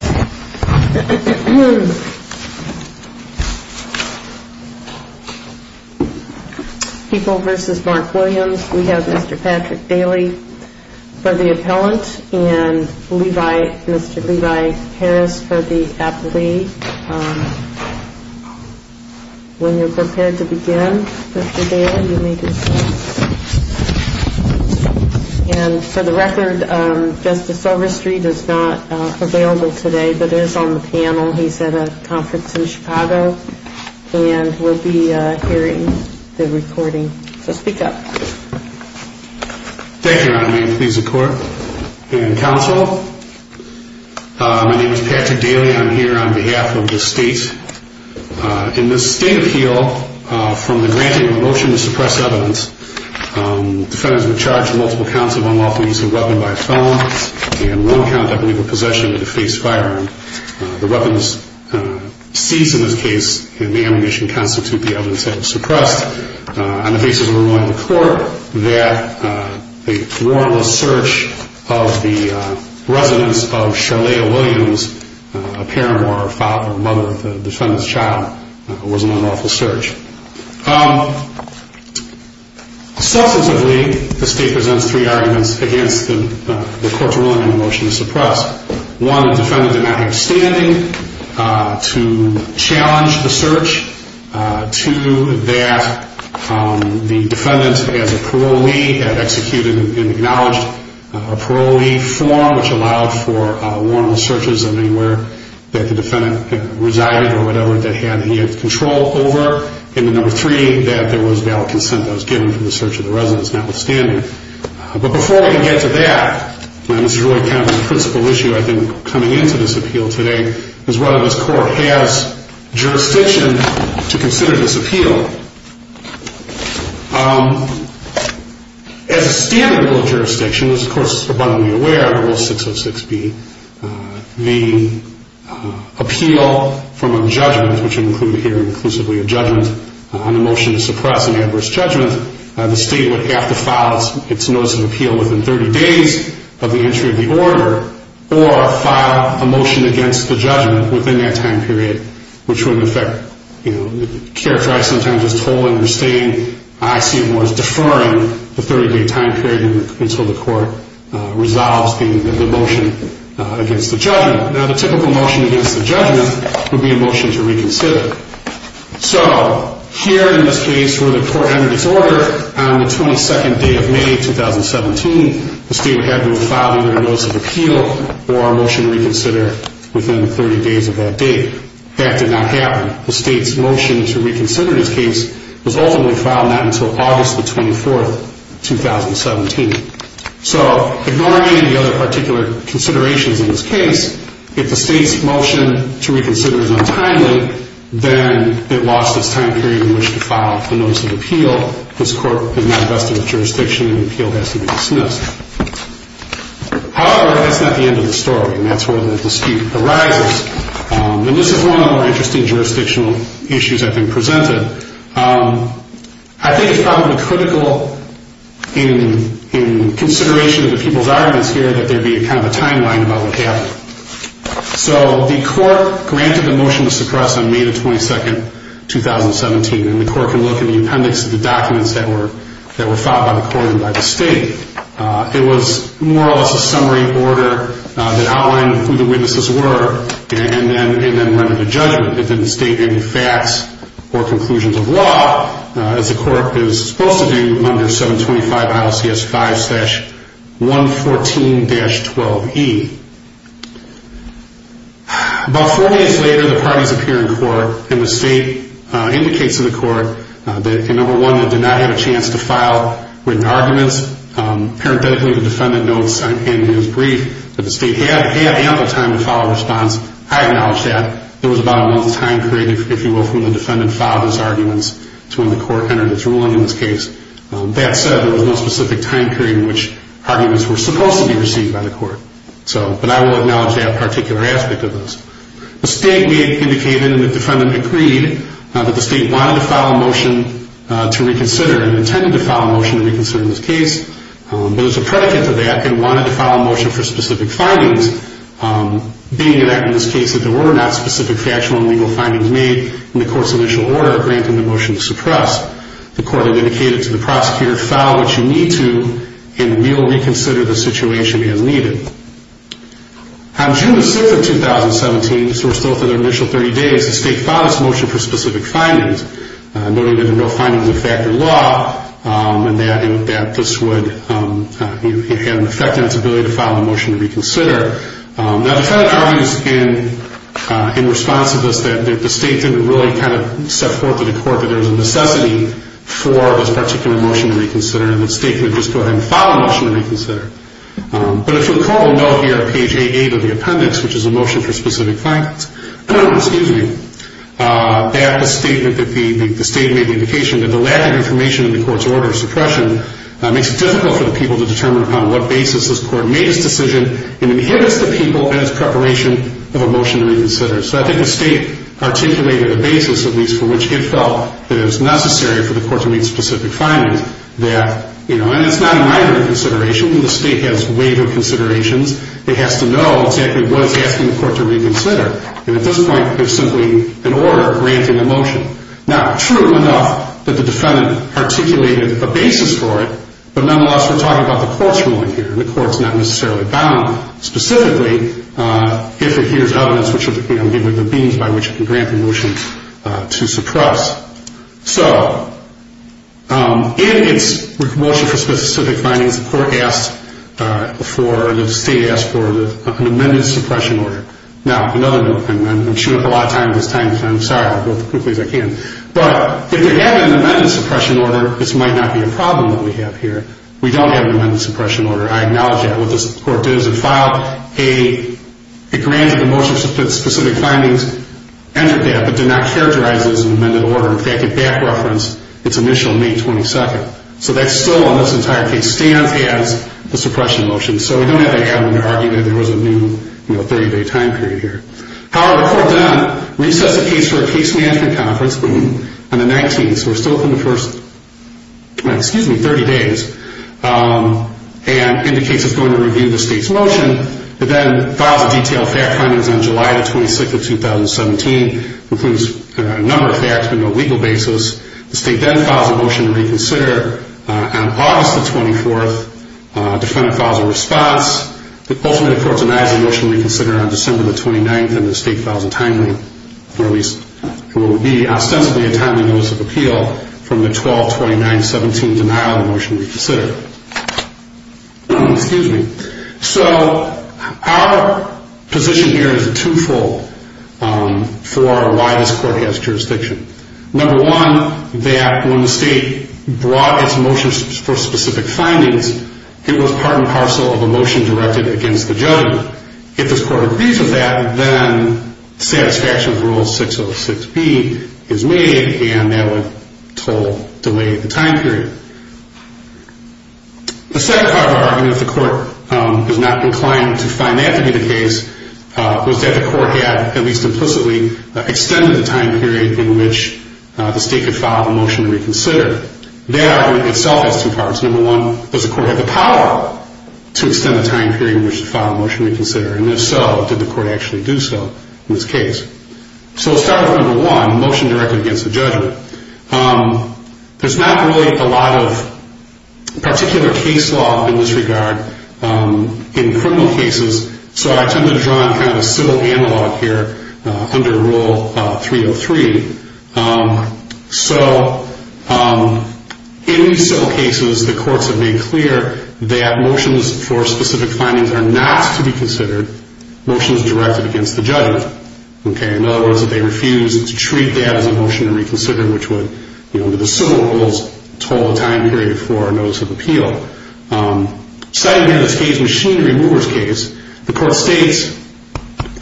People v. Mark Williams We have Mr. Patrick Daly for the appellant and Mr. Levi Harris for the appellee. When you're prepared to begin, Mr. Daly, you may begin. And for the record, Justice Overstreet is not available today but is on the panel. He's at a conference in Chicago and will be hearing the recording. So speak up. Thank you, Your Honor. May it please the court and counsel. My name is Patrick Daly. I'm here on behalf of the state. In this state appeal, from the granting of a motion to suppress evidence, defendants were charged with multiple counts of unlawful use of a weapon by a felon and one count of illegal possession of a face firearm. The weapons seized in this case and the ammunition constitute the evidence that was suppressed. On the basis of a ruling of the court, that a warrantless search of the residence of Sharlaya Williams, a parent or father or mother of the defendant's child, was an unlawful search. Substantively, the state presents three arguments against the court's ruling on the motion to suppress. One, the defendant did not have standing to challenge the search. Two, that the defendant as a parolee had executed and acknowledged a parolee form which allowed for warrantless searches of anywhere that the defendant resided or whatever that he had control over. And number three, that there was valid consent that was given for the search of the residence notwithstanding. But before we get to that, and this is really kind of the principal issue I think coming into this appeal today, is whether this court has jurisdiction to consider this appeal. As a standard rule of jurisdiction, which of course is abundantly aware of Rule 606B, the appeal from a judgment, which would include here inclusively a judgment on a motion to suppress an adverse judgment, the state would have to file its notice of appeal within 30 days of the entry of the order or file a motion against the judgment within that time period, which would in effect characterize some time period. As I just told and understand, I see it more as deferring the 30-day time period until the court resolves the motion against the judgment. Now the typical motion against the judgment would be a motion to reconsider. So here in this case where the court entered its order on the 22nd day of May 2017, the state would have to file either a notice of appeal or a motion to reconsider within the 30 days of that date. That did not happen. The state's motion to reconsider this case was ultimately filed not until August the 24th, 2017. So ignoring any other particular considerations in this case, if the state's motion to reconsider is untimely, then it lost its time period in which to file the notice of appeal. This court is not vested with jurisdiction and the appeal has to be dismissed. However, that's not the end of the story and that's where the dispute arises. And this is one of the more interesting jurisdictional issues that's been presented. I think it's probably critical in consideration of the people's arguments here that there be kind of a timeline about what happened. So the court granted the motion to suppress on May the 22nd, 2017. And the court can look in the appendix at the documents that were filed by the court and by the state. It was more or less a summary order that outlined who the witnesses were and then rendered a judgment. And then the state handed facts or conclusions of law as the court is supposed to do under 725 ILCS 5-114-12E. About four days later, the parties appear in court and the state indicates to the court that, number one, they did not have a chance to file written arguments. Parenthetically, the defendant notes in his brief that the state had ample time to file a response. I acknowledge that. There was about a month's time period, if you will, for the defendant to file his arguments to when the court entered its ruling in this case. That said, there was no specific time period in which arguments were supposed to be received by the court. But I will acknowledge that particular aspect of this. The state indicated and the defendant agreed that the state wanted to file a motion to reconsider and intended to file a motion to reconsider in this case. But as a predicate to that, they wanted to file a motion for specific findings, being that in this case there were not specific factual and legal findings made in the court's initial order granting the motion to suppress. The court indicated to the prosecutor to file what you need to and we'll reconsider the situation as needed. On June 6th of 2017, so we're still within our initial 30 days, the state filed its motion for specific findings, noting that there were no findings of fact or law and that this would have an effect on its ability to file a motion to reconsider. Now, the defendant argues in response to this that the state didn't really kind of set forth to the court that there was a necessity for this particular motion to reconsider and the state could just go ahead and file a motion to reconsider. But for the court, we'll note here on page 8 of the appendix, which is a motion for specific findings, that the state made the indication that the lack of information in the court's order of suppression makes it difficult for the people to determine upon what basis this court made its decision and inhibits the people in its preparation of a motion to reconsider. So I think the state articulated a basis, at least, for which it felt that it was necessary for the court to make specific findings that, you know, and it's not a minor consideration. The state has waiver considerations. It has to know exactly what it's asking the court to reconsider. And at this point, there's simply an order granting the motion. Not true enough that the defendant articulated a basis for it, but nonetheless, we're talking about the court's ruling here. The court's not necessarily bound, specifically, if it hears evidence, you know, given the means by which it can grant the motion to suppress. So in its motion for specific findings, the state asked for an amended suppression order. Now, another note, and I'm chewing up a lot of time this time, so I'm sorry. I'll go as quickly as I can. But if you have an amended suppression order, this might not be a problem that we have here. We don't have an amended suppression order. I acknowledge that. What the court did is it filed a grant of the motion for specific findings, entered that, but did not characterize it as an amended order. In fact, it back-referenced its initial May 22nd. So that still, in this entire case, stands as the suppression motion. So we don't have to add on to argue that there was a new, you know, 30-day time period here. However, the court then recessed the case for a case management conference on the 19th. So we're still in the first, excuse me, 30 days, and indicates it's going to review the state's motion. It then files a detailed fact findings on July the 26th of 2017, includes a number of facts, but no legal basis. The state then files a motion to reconsider on August the 24th. Defendant files a response. Ultimately, the court denies the motion to reconsider on December the 29th, and the state files a timely, or at least what would be ostensibly a timely notice of appeal from the 12-29-17 denial of the motion to reconsider. Excuse me. So our position here is twofold for why this court has jurisdiction. Number one, that when the state brought its motion for specific findings, it was part and parcel of a motion directed against the judge. Number one, if this court agrees with that, then satisfaction of Rule 606B is made, and that would delay the time period. The second part of our argument, if the court is not inclined to find that to be the case, was that the court had, at least implicitly, extended the time period in which the state could file a motion to reconsider. That argument itself has two parts. Number one, does the court have the power to extend the time period in which to file a motion to reconsider, and if so, did the court actually do so in this case? So let's start with number one, the motion directed against the judge. There's not really a lot of particular case law in this regard in criminal cases, so I tend to draw on kind of a civil analog here under Rule 303. So in these civil cases, the courts have made clear that motions for specific findings are not to be considered motions directed against the judge. In other words, if they refuse to treat that as a motion to reconsider, which would, under the civil rules, stall the time period for a notice of appeal. Citing in this case, Machine Remover's case, the court states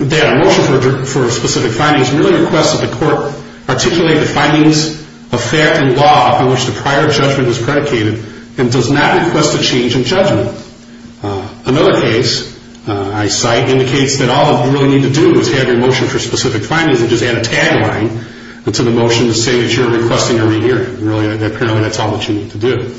that a motion for specific findings really requests that the court articulate the findings of fact and law in which the prior judgment was predicated and does not request a change in judgment. Another case I cite indicates that all you really need to do is have your motion for specific findings and just add a tagline to the motion to say that you're requesting a re-hearing. Really, apparently, that's all that you need to do.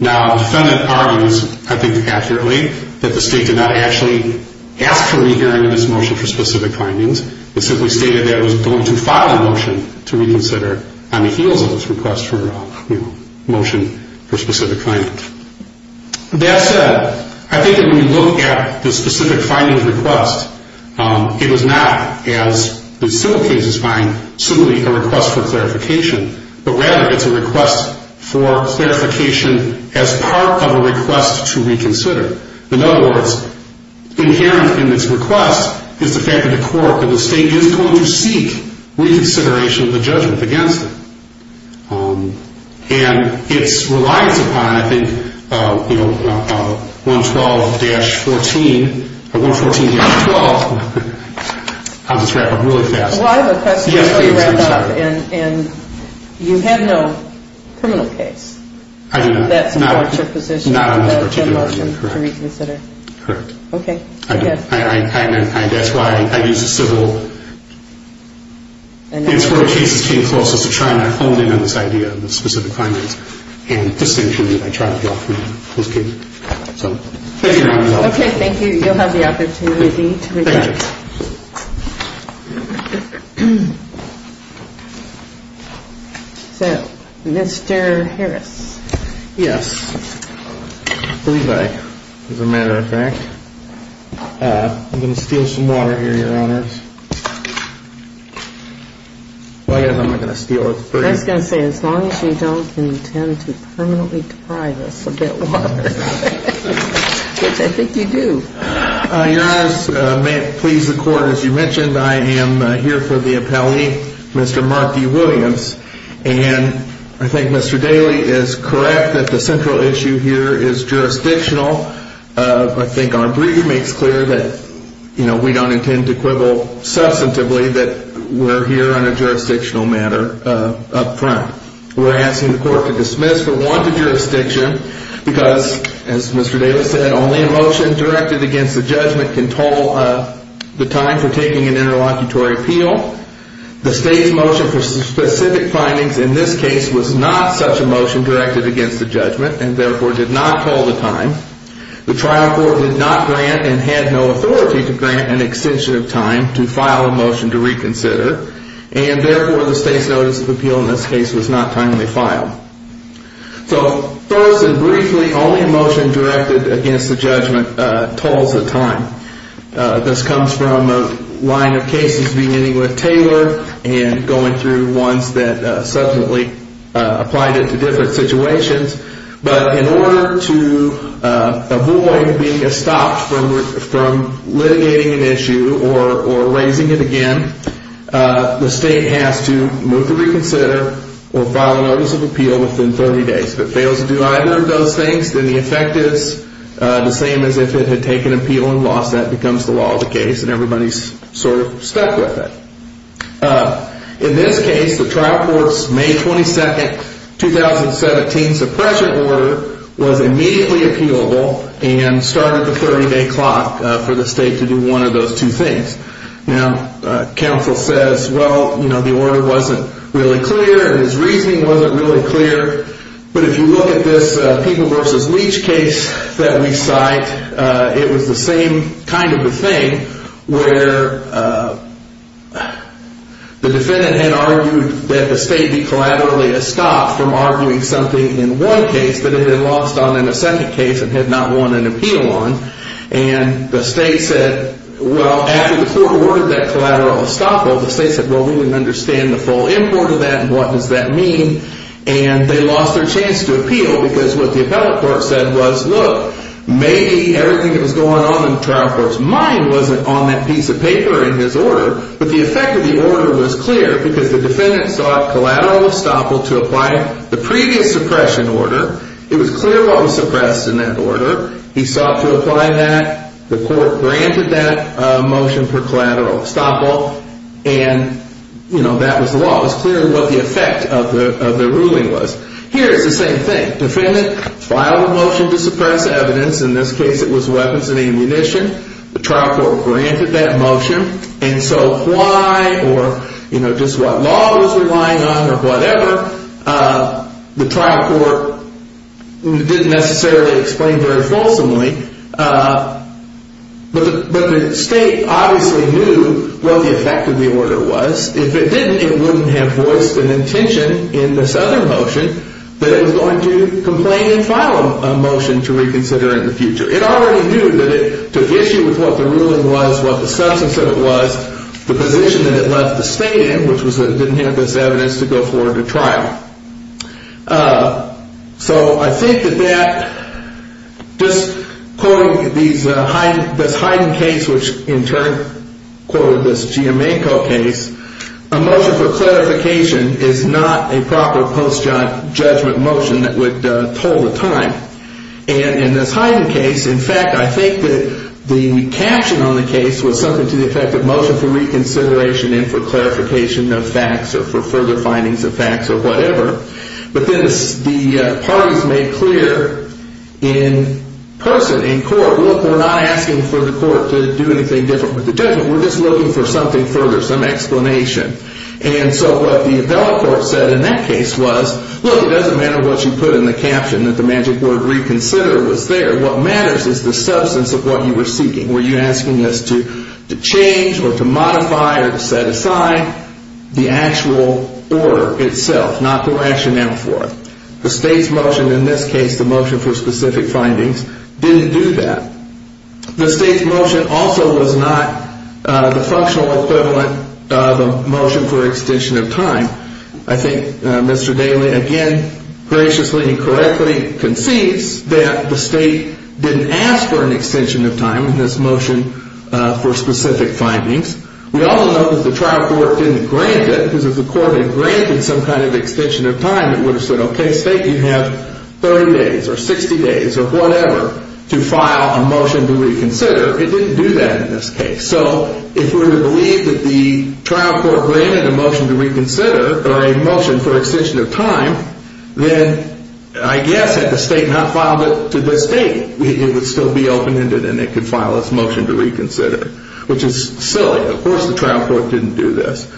Now, the defendant argues, I think accurately, that the state did not actually ask for a re-hearing of this motion for specific findings. It simply stated that it was going to file a motion to reconsider on the heels of its request for a motion for specific findings. That said, I think that when you look at the specific findings request, it was not, as the civil cases find, simply a request for clarification, but rather it's a request for clarification as part of a request to reconsider. In other words, inherent in this request is the fact that the state is going to seek reconsideration of the judgment against it. And it relies upon, I think, 112-14, or 114-12. I'll just wrap up really fast. Well, I have a question before you wrap up. And you have no criminal case that supports your position on the motion to reconsider? Correct. Okay. That's why I use the civil and civil cases came closest to trying to hone in on this idea of the specific findings. And distinctly, I try to draw from those cases. Okay, thank you. So you'll have the opportunity to reject. So, Mr. Harris. Yes. I believe I, as a matter of fact. I'm going to steal some water here, Your Honors. Well, I guess I'm not going to steal it. I was going to say, as long as you don't intend to permanently deprive us of that water. Which I think you do. Your Honors, may it please the Court, as you mentioned, I am here for the appellee, Mr. Mark D. Williams. And I think Mr. Daley is correct that the central issue here is jurisdictional. I think our brief makes clear that we don't intend to quibble substantively that we're here on a jurisdictional matter up front. We're asking the Court to dismiss, for one, the jurisdiction. Because, as Mr. Daley said, only a motion directed against the judgment can toll the time for taking an interlocutory appeal. The state's motion for specific findings in this case was not such a motion directed against the judgment. And therefore, did not toll the time. The trial court did not grant and had no authority to grant an extension of time to file a motion to reconsider. And therefore, the state's notice of appeal in this case was not timely filed. So, first and briefly, only a motion directed against the judgment tolls the time. This comes from a line of cases beginning with Taylor and going through ones that subsequently applied it to different situations. But in order to avoid being stopped from litigating an issue or raising it again, the state has to move to reconsider or file a notice of appeal within 30 days. If it fails to do either of those things, then the effect is the same as if it had taken appeal and lost. That becomes the law of the case, and everybody's sort of stuck with it. In this case, the trial court's May 22, 2017 suppression order was immediately appealable and started the 30-day clock for the state to do one of those two things. Now, counsel says, well, you know, the order wasn't really clear and his reasoning wasn't really clear. But if you look at this People v. Leach case that we cite, it was the same kind of a thing where the defendant had argued that the state be collaterally stopped from arguing something in one case that had been lost on in a second case and had not won an appeal on. And the state said, well, after the court ordered that collateral estoppel, the state said, well, we didn't understand the full import of that and what does that mean? And they lost their chance to appeal because what the appellate court said was, look, maybe everything that was going on in the trial court's mind wasn't on that piece of paper in his order. But the effect of the order was clear because the defendant sought collateral estoppel to apply the previous suppression order. It was clear what was suppressed in that order. He sought to apply that. The court granted that motion for collateral estoppel. And, you know, that was the law. It was clear what the effect of the ruling was. Here is the same thing. Defendant filed a motion to suppress evidence. In this case, it was weapons and ammunition. The trial court granted that motion. And so why or, you know, just what law was relying on or whatever, the trial court didn't necessarily explain very fulsomely. But the state obviously knew what the effect of the order was. If it didn't, it wouldn't have voiced an intention in this other motion that it was going to complain and file a motion to reconsider in the future. It already knew that it took issue with what the ruling was, what the substance of it was, the position that it left the state in, which was that it didn't have this evidence to go forward to trial. So I think that that, just quoting this Heiden case, which in turn quoted this Giamenco case, a motion for clarification is not a proper post-judgment motion that would hold the time. And in this Heiden case, in fact, I think that the caption on the case was something to the effect of motion for reconsideration and for clarification of facts or for further findings of facts or whatever. But then the parties made clear in person, in court, look, we're not asking for the court to do anything different with the judgment. We're just looking for something further, some explanation. And so what the appellate court said in that case was, look, it doesn't matter what you put in the caption, that the magic word reconsider was there. What matters is the substance of what you were seeking. Were you asking us to change or to modify or to set aside the actual order itself, not the rationale for it? The state's motion in this case, the motion for specific findings, didn't do that. The state's motion also was not the functional equivalent of a motion for extension of time. I think Mr. Daley, again, graciously and correctly concedes that the state didn't ask for an extension of time in this motion for specific findings. We also know that the trial court didn't grant it because if the court had granted some kind of extension of time, it would have said, okay, state, you have 30 days or 60 days or whatever to file a motion to reconsider. It didn't do that in this case. So if we were to believe that the trial court granted a motion to reconsider or a motion for extension of time, then I guess had the state not filed it to this date, it would still be open-ended and they could file this motion to reconsider, which is silly. Of course the trial court didn't do this.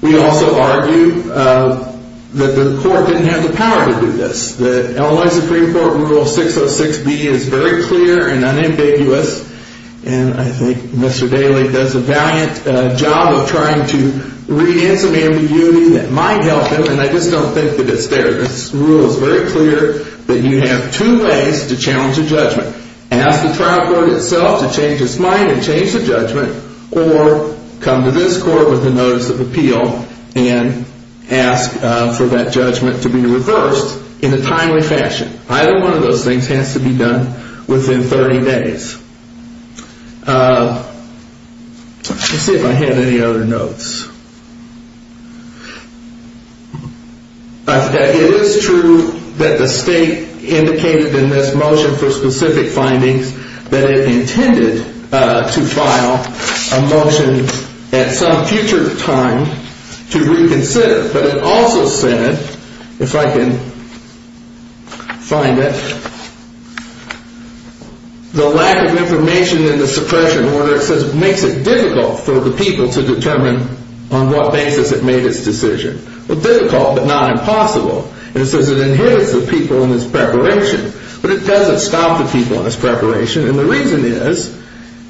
We also argue that the court didn't have the power to do this. The Illinois Supreme Court Rule 606B is very clear and unambiguous, and I think Mr. Daley does a valiant job of trying to read in some ambiguity that might help him, and I just don't think that it's there. This rule is very clear that you have two ways to challenge a judgment. Ask the trial court itself to change its mind and change the judgment, or come to this court with a notice of appeal and ask for that judgment to be reversed in a timely fashion. Either one of those things has to be done within 30 days. Let's see if I have any other notes. I forgot. It is true that the state indicated in this motion for specific findings that it intended to file a motion at some future time to reconsider. But it also said, if I can find it, the lack of information in the suppression order makes it difficult for the people to determine on what basis it made its decision. Well, difficult, but not impossible. It says it inhibits the people in its preparation, but it doesn't stop the people in its preparation. And the reason is,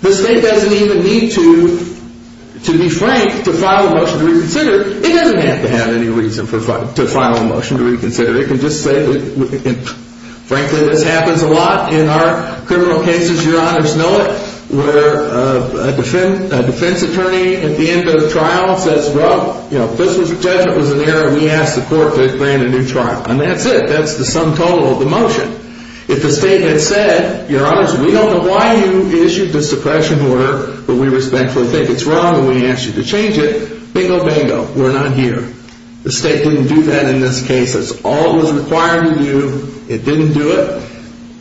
the state doesn't even need to be frank to file a motion to reconsider. It doesn't have to have any reason to file a motion to reconsider. It can just say, frankly, this happens a lot in our criminal cases, your honors know it, where a defense attorney at the end of the trial says, well, this judgment was an error. We asked the court to grant a new trial. And that's it. That's the sum total of the motion. If the state had said, your honors, we don't know why you issued the suppression order, but we respectfully think it's wrong and we ask you to change it, bingo, bingo, we're not here. The state didn't do that in this case. That's all it was required to do. It didn't do it.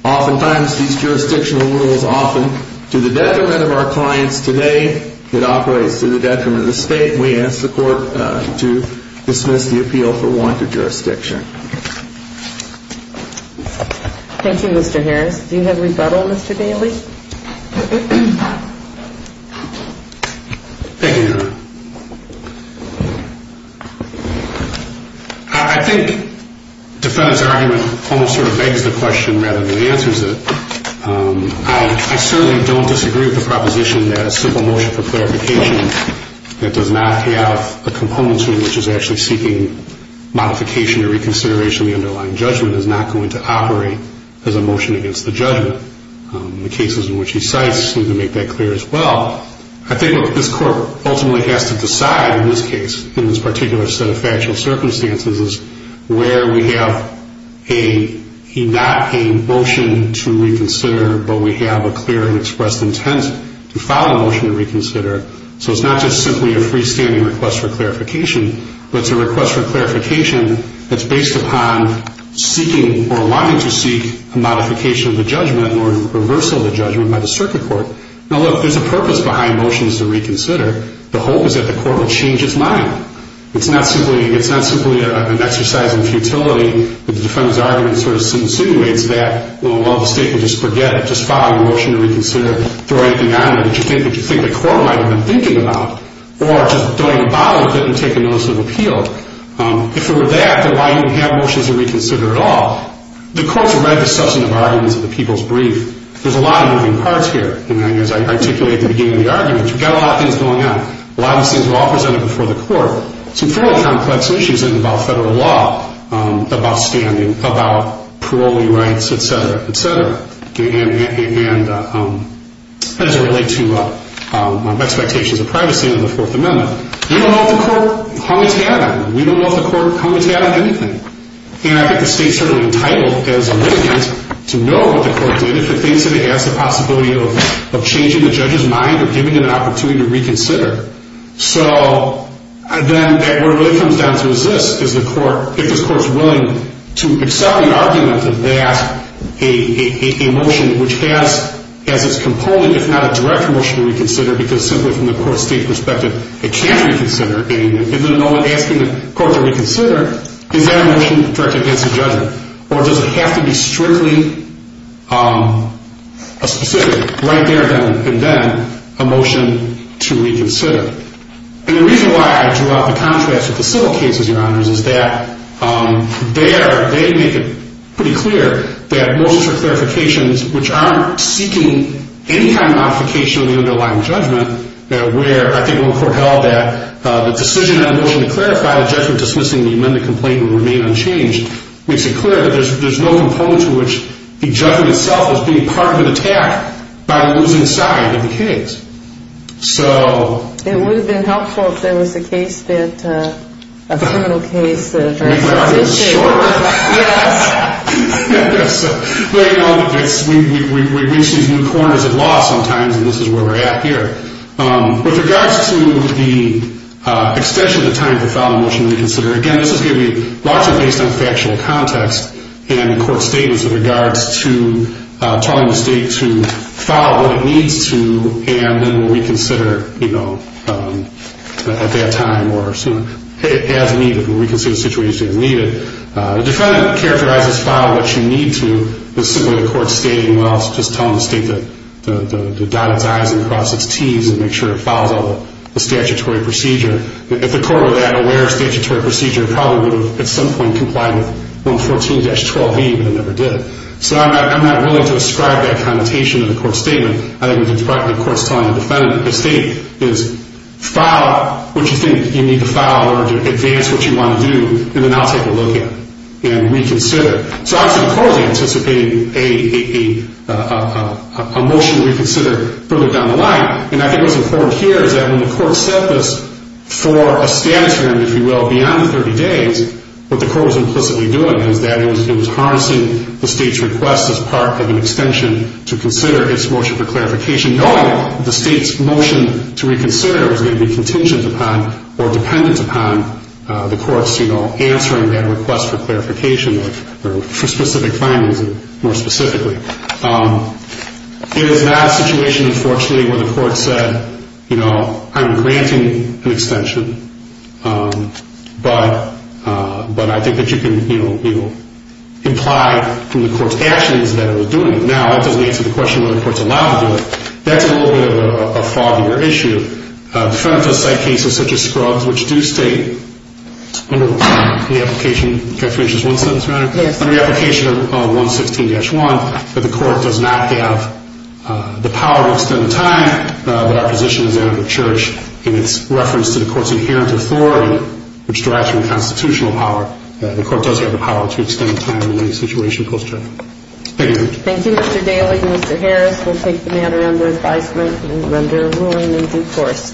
Oftentimes, these jurisdictional rules often, to the detriment of our clients today, it operates to the detriment of the state. We ask the court to dismiss the appeal for warranted jurisdiction. Thank you, Mr. Harris. Do you have a rebuttal, Mr. Daly? Thank you, Your Honor. I think the defense argument almost sort of begs the question rather than answers it. I certainly don't disagree with the proposition that a simple motion for clarification that does not have a component to it, which is actually seeking modification or reconsideration of the underlying judgment, is not going to operate as a motion against the judgment. The cases in which he cites seem to make that clear as well. I think what this court ultimately has to decide in this case, in this particular set of factual circumstances, is where we have not a motion to reconsider, but we have a clear and expressed intent to file a motion to reconsider. So it's not just simply a freestanding request for clarification, but it's a request for clarification that's based upon seeking or wanting to seek a modification of the judgment or a reversal of the judgment by the circuit court. Now, look, there's a purpose behind motions to reconsider. The hope is that the court will change its mind. It's not simply an exercise in futility that the defendant's argument sort of insinuates that, well, the state will just forget it, just file a motion to reconsider, throw anything on it that you think the court might have been thinking about, or just throw in a bottle of it and take a notice of appeal. If it were that, then why even have motions to reconsider at all? The court's read the substantive arguments of the people's brief. There's a lot of moving parts here. As I articulated at the beginning of the arguments, we've got a lot of things going on. A lot of these things were all presented before the court, some fairly complex issues that involve federal law, about standing, about parolee rights, et cetera, et cetera, and as it relates to expectations of privacy under the Fourth Amendment. We don't know if the court hung its hat on it. We don't know if the court hung its hat on anything. And I think the state's certainly entitled, as a litigant, to know what the court did, if it thinks that it has the possibility of changing the judge's mind or giving it an opportunity to reconsider. So then what it really comes down to is this, is the court, if this court's willing to excel the argument that they ask a motion which has as its component, if not a direct motion to reconsider, because simply from the court-state perspective, it can't reconsider, and if there's no one asking the court to reconsider, is that a motion directed against the judgment? Or does it have to be strictly a specific, right there and then, a motion to reconsider? And the reason why I drew out the contrast with the civil cases, Your Honors, is that there they make it pretty clear that motions for clarifications, which aren't seeking any kind of modification of the underlying judgment, where I think when the court held that the decision on a motion to clarify the judgment dismissing the amended complaint would remain unchanged, makes it clear that there's no component to which the judgment itself is being part of an attack by the losing side of the case. So... It would have been helpful if there was a case that, a criminal case that... Make that argument shorter. Yes. We reach these new corners of law sometimes, and this is where we're at here. With regards to the extension of the time to file a motion to reconsider, again, this is going to be largely based on factual context, and court statements with regards to telling the state to file what it needs to, and then we'll reconsider, you know, at that time, or as needed. We'll reconsider the situation as needed. If the defendant characterizes file what you need to, it's simply the court stating, well, it's just telling the state to dot its I's and cross its T's and make sure it files all the statutory procedure. If the court were that aware of statutory procedure, it probably would have, at some point, complied with 114-12B, but it never did. So I'm not willing to ascribe that connotation to the court's statement. I think what the court's telling the defendant, the state, is file what you think you need to file in order to advance what you want to do, and then I'll take a look at it and reconsider. So, actually, the court was anticipating a motion to reconsider further down the line, and I think what's important here is that when the court set this for a status, if you will, beyond 30 days, what the court was implicitly doing is that it was harnessing the state's request as part of an extension to consider its motion for clarification, knowing that the state's motion to reconsider was going to be contingent upon or dependent upon the court's, you know, answering that request for clarification or for specific findings more specifically. It is not a situation, unfortunately, where the court said, you know, I'm granting an extension, but I think that you can, you know, imply from the court's actions that it was doing it. Now, that doesn't answer the question whether the court's allowed to do it. That's a little bit of a foggier issue. Defendant does cite cases such as Scruggs, which do state under the application of 116-1 that the court does not have the power to extend the time that our position is out of the church in its reference to the court's inherent authority, which derives from constitutional power. The court does have the power to extend the time in any situation post-trial. Thank you. Thank you, Mr. Daly and Mr. Harris. We'll take the matter under advisement and render a ruling in due course.